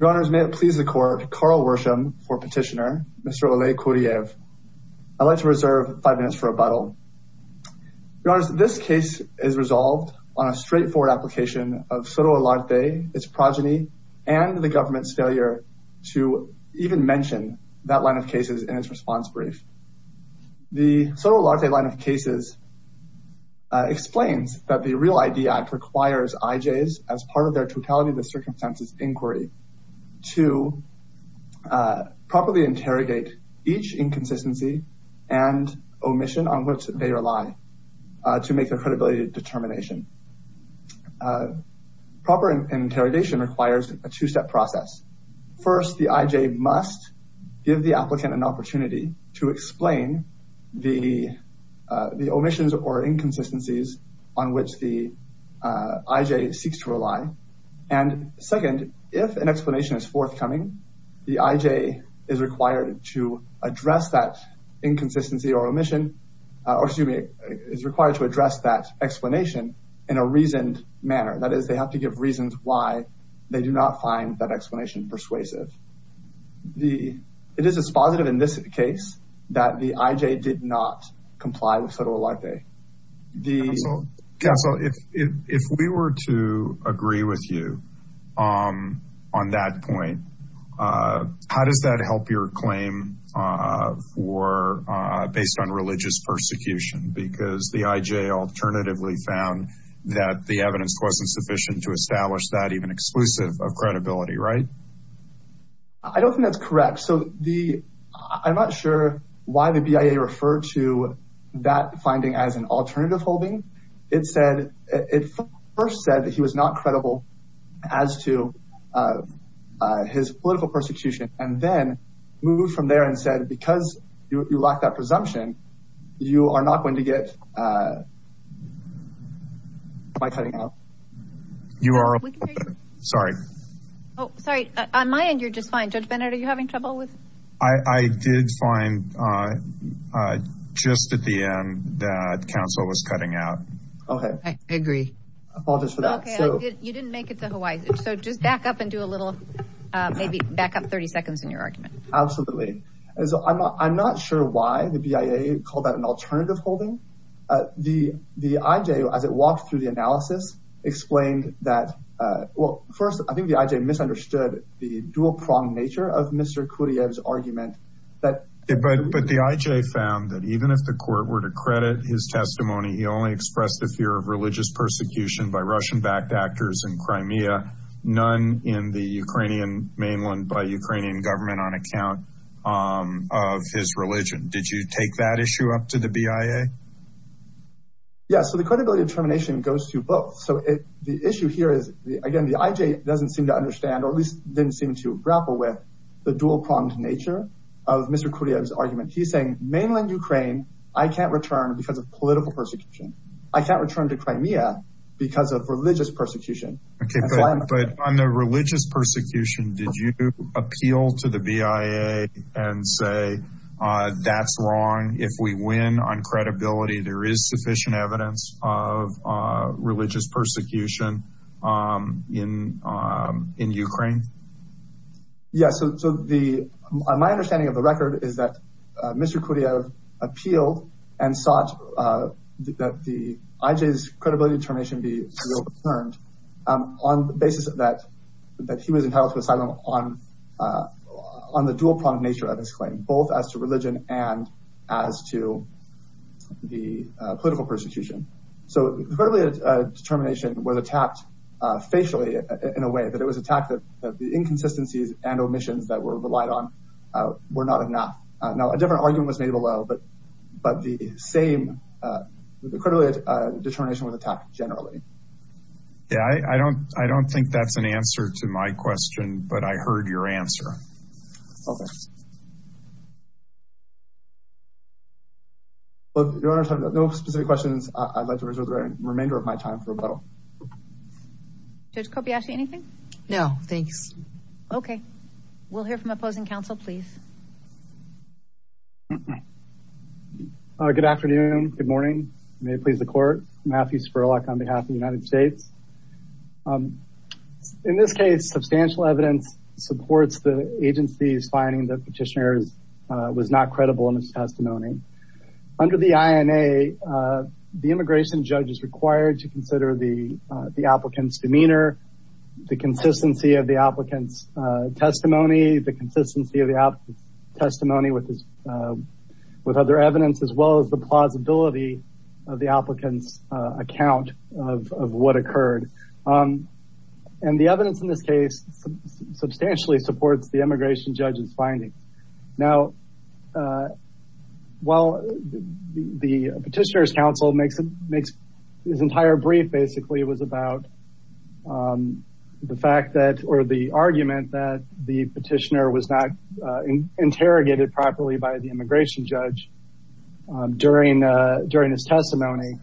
Your Honors, may it please the Court, Carl Worsham for Petitioner, Mr. Oleh Kuraiev. I'd like to reserve five minutes for rebuttal. Your Honors, this case is resolved on a straightforward application of Soto Olarte, its progeny, and the government's failure to even mention that line of cases in its response brief. The Soto Olarte line of cases explains that the Real ID Act requires IJs, as part of their Totality of Circumstances Inquiry, to properly interrogate each inconsistency and omission on which they rely to make their credibility determination. Proper interrogation requires a two-step process. First, the IJ must give the applicant an opportunity to explain the omissions or inconsistencies on which the IJ seeks to rely. Second, if an explanation is forthcoming, the IJ is required to address that explanation in a reasoned manner. That is, they have to give reasons why they do not find that explanation persuasive. It is dispositive in this case that the IJ did not comply with Soto Olarte. Counsel, if we were to agree with you on that point, how does that help your claim based on religious persecution? Because the IJ alternatively found that the evidence wasn't sufficient to establish that even exclusive of credibility, right? I don't think that's correct. So, I'm not sure why the BIA referred to that finding as an alternative holding. It first said that he was not credible as to his political persecution, and then moved from there and said, because you lack that presumption, you are not going to get my cutting out. On my end, you're just fine. Judge Bennett, are you having trouble? I did find just at the end that counsel was cutting out. Okay, I agree. I apologize for that. You didn't make it to Hawaii. So, just back up and do a little, maybe back up 30 seconds in your argument. Absolutely. I'm not sure why the BIA called that an alternative holding. The IJ, as it walked through the analysis, explained that, well, first, I think the IJ misunderstood the dual-pronged nature of Mr. Kudiev's argument. But the IJ found that even if the court were to credit his testimony, he only expressed the fear of religious persecution by Russian-backed actors in Crimea, none in the Ukrainian mainland by Ukrainian government on account of his religion. Did you take that issue up to the BIA? Yes. So, the credibility of termination goes to both. So, the issue here is, again, the IJ doesn't seem to understand or at least didn't seem to grapple with the dual-pronged nature of Mr. Kudiev's argument. He's saying, mainland Ukraine, I can't return because of political persecution. I can't return to Crimea because of religious persecution. But on the religious persecution, did you appeal to the BIA and say, that's wrong, if we win on credibility, there is sufficient evidence of religious persecution in Ukraine? Yes. So, my understanding of the record is that Mr. Kudiev appealed and sought that the IJ's credibility determination be overturned on the basis that he was entitled to asylum on the dual-pronged nature of his claim, both as to religion and as to the political persecution. So, the credibility determination was attacked facially in a way that it was attacked that the inconsistencies and omissions that were relied on were not enough. Now, a different argument was made below, but the same credibility determination was attacked generally. Yeah, I don't think that's an answer to my question, but I heard your answer. Okay. Your Honor, I have no specific questions. I'd like to reserve the remainder of my time for rebuttal. Judge Kobayashi, anything? No, thanks. Okay. We'll hear from opposing counsel, please. Good afternoon. Good morning. May it please the court. Matthew Spurlock on behalf of the United States. In this case, substantial evidence supports the agency's finding that Petitioner was not credible in his testimony. Under the INA, the immigration judge is required to consider the applicant's demeanor, the consistency of the applicant's testimony, the consistency of the applicant's testimony with other evidence, as well as the plausibility of the applicant's account of what occurred. And the evidence in this case substantially supports the immigration judge's findings. Now, while the Petitioner's counsel makes his entire brief basically was about the fact that or the argument that the Petitioner was not interrogated properly by the immigration judge during his testimony.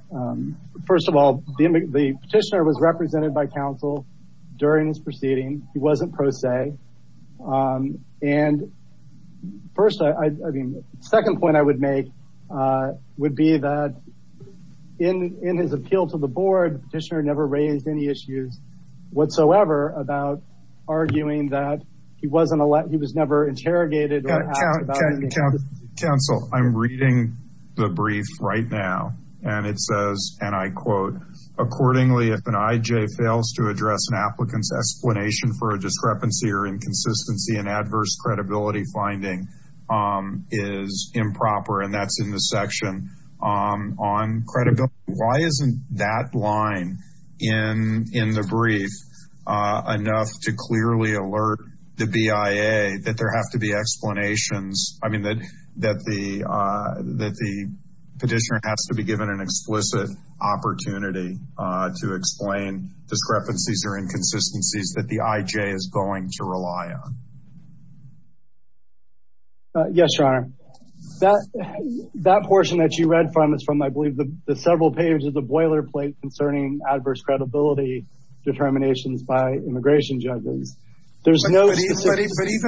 First of all, the Petitioner was represented by counsel during his proceeding. And first, I mean, second point I would make would be that in his appeal to the board, Petitioner never raised any issues whatsoever about arguing that he was never interrogated. Counsel, I'm reading the brief right now. And it says, and I quote, Accordingly, if an IJ fails to address an applicant's explanation for a discrepancy or inconsistency, an adverse credibility finding is improper. And that's in the section on credibility. Why isn't that line in the brief enough to clearly alert the BIA that there have to be explanations? I mean, that the Petitioner has to be given an explicit opportunity to explain discrepancies or inconsistencies that the IJ is going to rely on. Yes, Your Honor. That portion that you read from is from, I believe, the several pages of the boilerplate concerning adverse credibility determinations by immigration judges. But even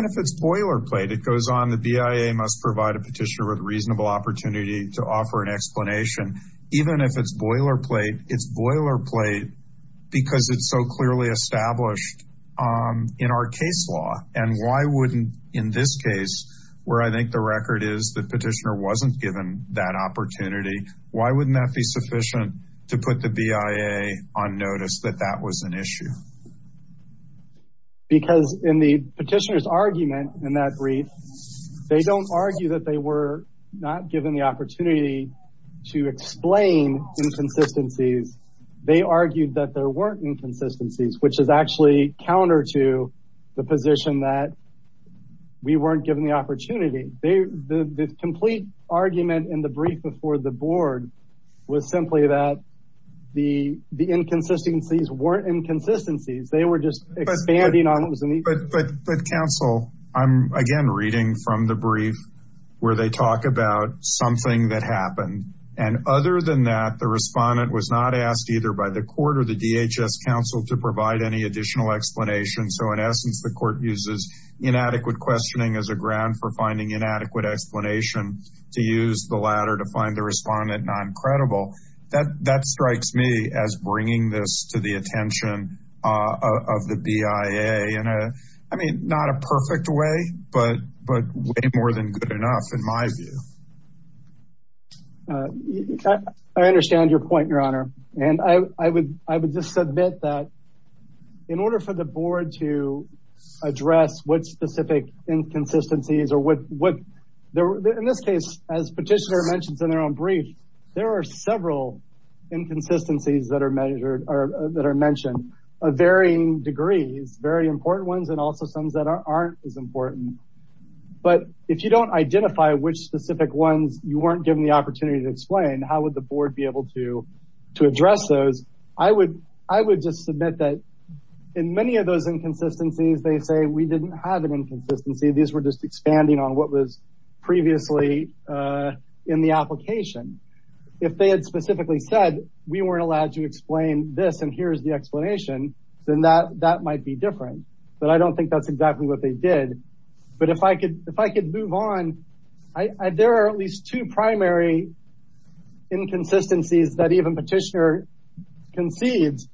if it's boilerplate, it goes on, the BIA must provide a Petitioner with reasonable opportunity to offer an explanation. Even if it's boilerplate, it's boilerplate because it's so clearly established in our case law. And why wouldn't, in this case, where I think the record is that Petitioner wasn't given that opportunity, why wouldn't that be sufficient to put the BIA on notice that that was an issue? Because in the Petitioner's argument in that brief, they don't argue that they were not given the opportunity to explain inconsistencies. They argued that there weren't inconsistencies, which is actually counter to the position that we weren't given the opportunity. The complete argument in the brief before the board was simply that the inconsistencies weren't inconsistencies. They were just expanding on what was an issue. But counsel, I'm again reading from the brief where they talk about something that happened. And other than that, the respondent was not asked either by the court or the DHS counsel to provide any additional explanation. So in essence, the court uses inadequate questioning as a ground for finding inadequate explanation to use the latter to find the respondent non-credible. That strikes me as bringing this to the attention of the BIA in a, I mean, not a perfect way, but way more than good enough in my view. I understand your point, Your Honor. And I would just submit that in order for the board to address what specific inconsistencies or what, in this case, as Petitioner mentions in their own brief, there are several inconsistencies that are mentioned of varying degrees, very important ones, and also some that aren't as important. But if you don't identify which specific ones you weren't given the opportunity to explain, how would the board be able to address those? I would just submit that in many of those inconsistencies, they say we didn't have an inconsistency. These were just expanding on what was previously in the application. If they had specifically said we weren't allowed to explain this and here's the explanation, then that might be different. But I don't think that's exactly what they did. But if I could move on, there are at least two primary inconsistencies that even Petitioner concedes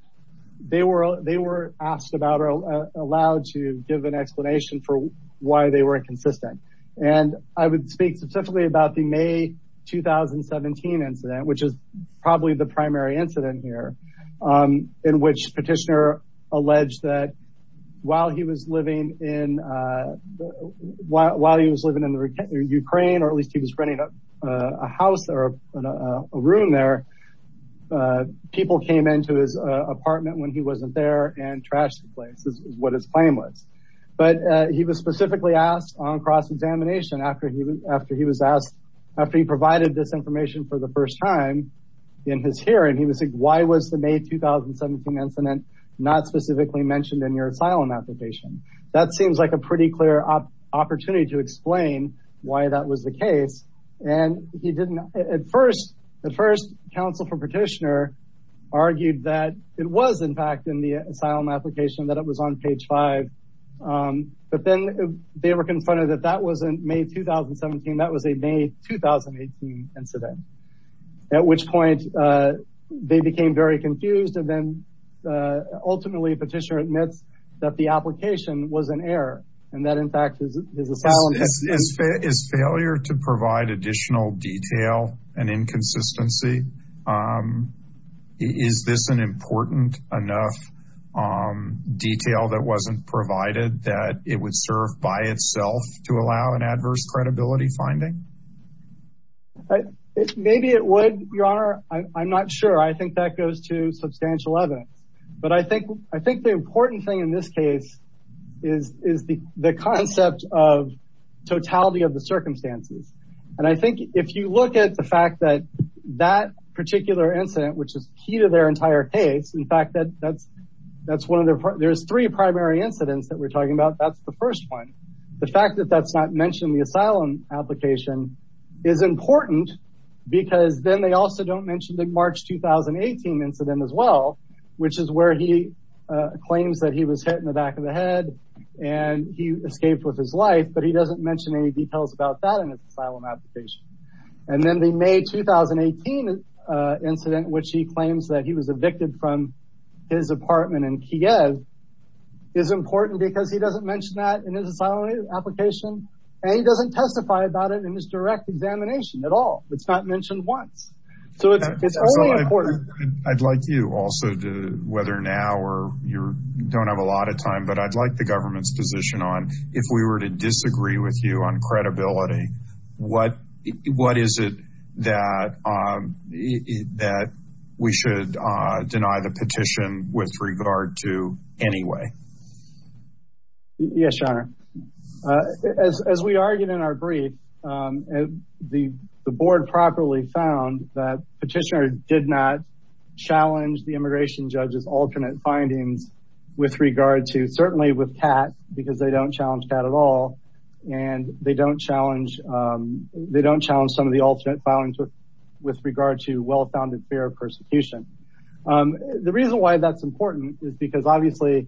they were asked about or allowed to give an explanation for why they weren't consistent. And I would speak specifically about the May 2017 incident, which is probably the primary incident here, in which Petitioner alleged that while he was living in Ukraine, or at least he was renting a house or a room there, people came into his apartment when he wasn't there and trashed the place is what his claim was. But he was specifically asked on cross-examination after he provided this information for the first time in his hearing, he was asked why was the May 2017 incident not specifically mentioned in your asylum application? That seems like a pretty clear opportunity to explain why that was the case. At first, the first counsel for Petitioner argued that it was in fact in the asylum application that it was on page five. But then they were confronted that that was in May 2017. That was a May 2018 incident, at which point they became very confused. And then ultimately, Petitioner admits that the application was an error and that in fact, his asylum... Is failure to provide additional detail an inconsistency? Is this an important enough detail that wasn't provided that it would serve by itself to allow an adverse credibility finding? Maybe it would, Your Honor. I'm not sure. I think that goes to substantial evidence. But I think I think the important thing in this case is is the concept of totality of the circumstances. And I think if you look at the fact that that particular incident, which is key to their entire case, in fact, that that's that's one of the there's three primary incidents that we're talking about. That's the first one. The fact that that's not mentioned in the asylum application is important because then they also don't mention the March 2018 incident as well, which is where he claims that he was hit in the back of the head and he escaped with his life. But he doesn't mention any details about that in his asylum application. And then the May 2018 incident, which he claims that he was evicted from his apartment in Kiev, is important because he doesn't mention that in his asylum application. And he doesn't testify about it in his direct examination at all. It's not mentioned once. I'd like you also to whether now or you don't have a lot of time, but I'd like the government's position on if we were to disagree with you on credibility. What what is it that that we should deny the petition with regard to anyway? Yes, Your Honor. As we argued in our brief, the board properly found that petitioner did not challenge the immigration judge's alternate findings with regard to certainly with Kat, because they don't challenge Kat at all. And they don't challenge they don't challenge some of the alternate findings with regard to well-founded fear of persecution. The reason why that's important is because obviously,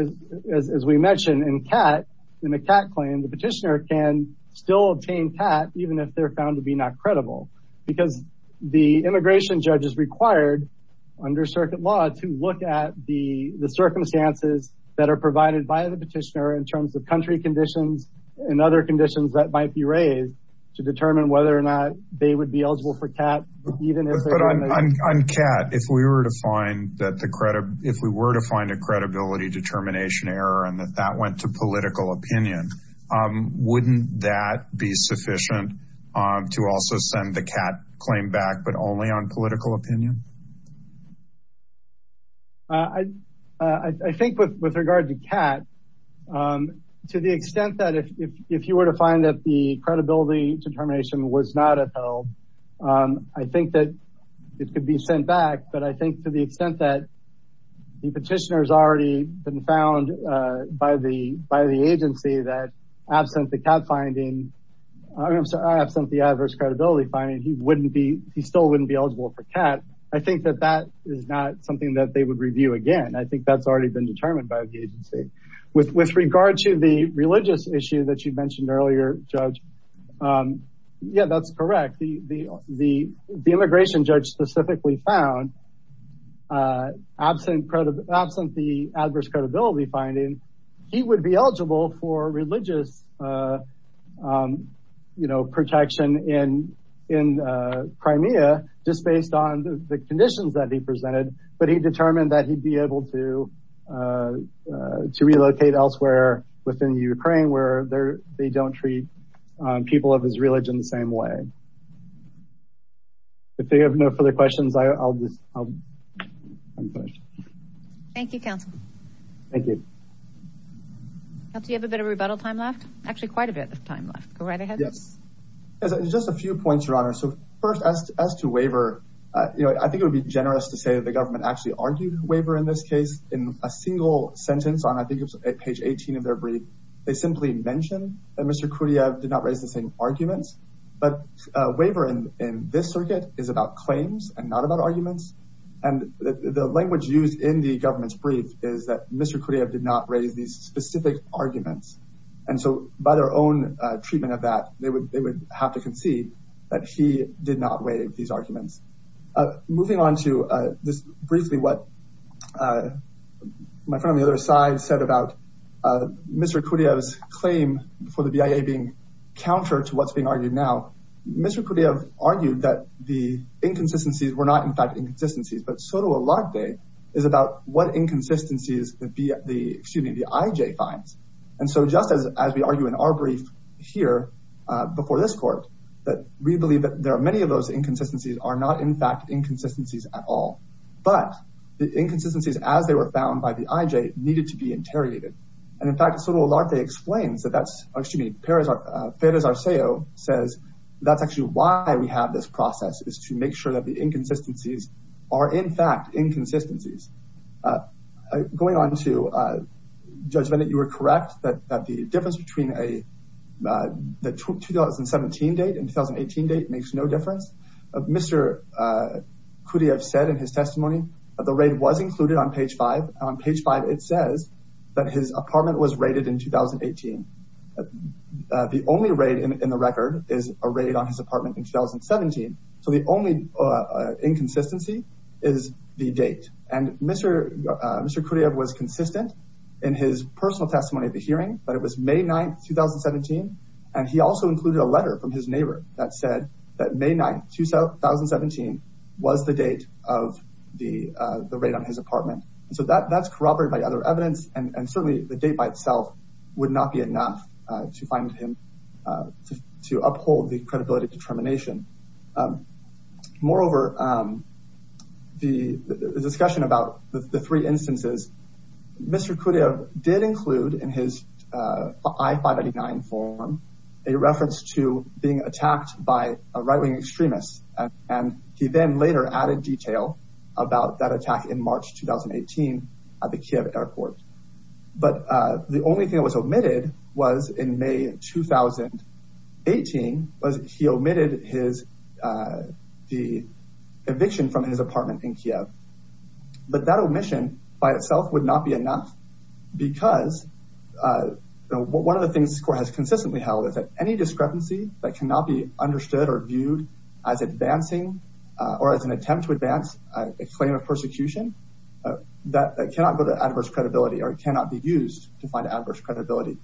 as we mentioned in Kat, in the Kat claim, the petitioner can still obtain Kat even if they're found to be not credible. Because the immigration judge is required under circuit law to look at the the circumstances that are provided by the petitioner in terms of country conditions and other conditions that might be raised to determine whether or not they would be eligible for Kat. But on Kat, if we were to find that the credit if we were to find a credibility determination error and that that went to political opinion, wouldn't that be sufficient to also send the Kat claim back, but only on political opinion? I think with with regard to Kat, to the extent that if you were to find that the credibility determination was not at all, I think that it could be sent back. But I think to the extent that the petitioner has already been found by the by the agency that absent the Kat finding, absent the adverse credibility finding, he wouldn't be he still wouldn't be eligible for Kat. I think that that is not something that they would review again. I think that's already been determined by the agency. With regard to the religious issue that you mentioned earlier, Judge, yeah, that's correct. The immigration judge specifically found absent the adverse credibility finding, he would be eligible for religious protection in Crimea just based on the conditions that he presented, but he determined that he'd be able to relocate elsewhere within Ukraine where they don't treat people of his religion the same way. If they have no further questions, I'll just. Thank you, counsel. Thank you. Do you have a bit of rebuttal time left? Actually, quite a bit of time left. Go right ahead. Just a few points, Your Honor. So first, as to as to waiver, I think it would be generous to say that the government actually argued waiver in this case in a single sentence on I think it's a page 18 of their brief. They simply mentioned that Mr. Kudya did not raise the same arguments, but waiver in this circuit is about claims and not about arguments. And the language used in the government's brief is that Mr. Kudya did not raise these specific arguments. And so by their own treatment of that, they would they would have to concede that he did not waive these arguments. Moving on to this briefly, what my friend on the other side said about Mr. Kudya's claim for the BIA being counter to what's being argued now. Mr. Kudya argued that the inconsistencies were not, in fact, inconsistencies, but Sotolakde is about what inconsistencies the IJ finds. And so just as we argue in our brief here before this court, that we believe that there are many of those inconsistencies are not, in fact, inconsistencies at all. But the inconsistencies, as they were found by the IJ, needed to be interrogated. And in fact, Sotolakde explains that that's actually Perez Arceo says that's actually why we have this process is to make sure that the inconsistencies are, in fact, inconsistencies. Going on to judgment that you were correct, that the difference between a 2017 date and 2018 date makes no difference. Mr. Kudya said in his testimony that the raid was included on page five. On page five, it says that his apartment was raided in 2018. The only raid in the record is a raid on his apartment in 2017. So the only inconsistency is the date. And Mr. Kudya was consistent in his personal testimony at the hearing, but it was May 9th, 2017. And he also included a letter from his neighbor that said that May 9th, 2017 was the date of the raid on his apartment. So that that's corroborated by other evidence and certainly the date by itself would not be enough to find him to uphold the credibility determination. Moreover, the discussion about the three instances, Mr. Kudya did include in his I-599 form a reference to being attacked by a right wing extremist. And he then later added detail about that attack in March, 2018 at the Kiev airport. But the only thing that was omitted was in May, 2018, was he omitted the eviction from his apartment in Kiev. But that omission by itself would not be enough because one of the things this court has consistently held is that any discrepancy that cannot be understood or viewed as advancing or as an attempt to advance a claim of persecution, that cannot go to adverse credibility or cannot be used to find adverse credibility.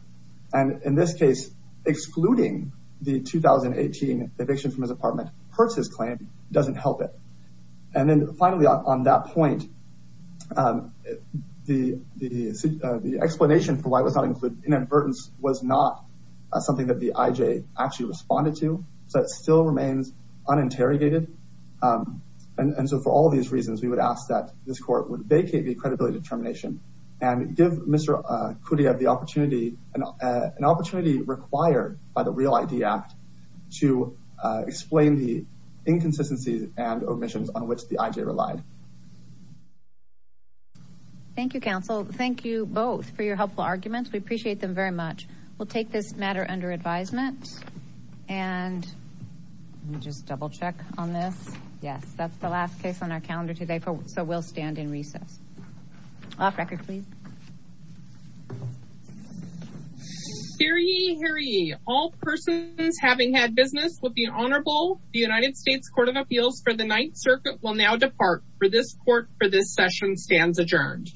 And in this case, excluding the 2018 eviction from his apartment hurts his claim, doesn't help it. And then finally, on that point, the explanation for why it was not included in inadvertence was not something that the IJ actually responded to. So it still remains uninterrogated. And so for all these reasons, we would ask that this court would vacate the credibility determination and give Mr. Kudya the opportunity, an opportunity required by the Real ID Act to explain the inconsistencies and omissions on which the IJ relied. Thank you, counsel. Thank you both for your helpful arguments. We appreciate them very much. We'll take this matter under advisement and just double check on this. Yes, that's the last case on our calendar today. So we'll stand in recess. Off record, please. Hear ye, hear ye. All persons having had business with the Honorable United States Court of Appeals for the Ninth Circuit will now depart for this court for this session stands adjourned.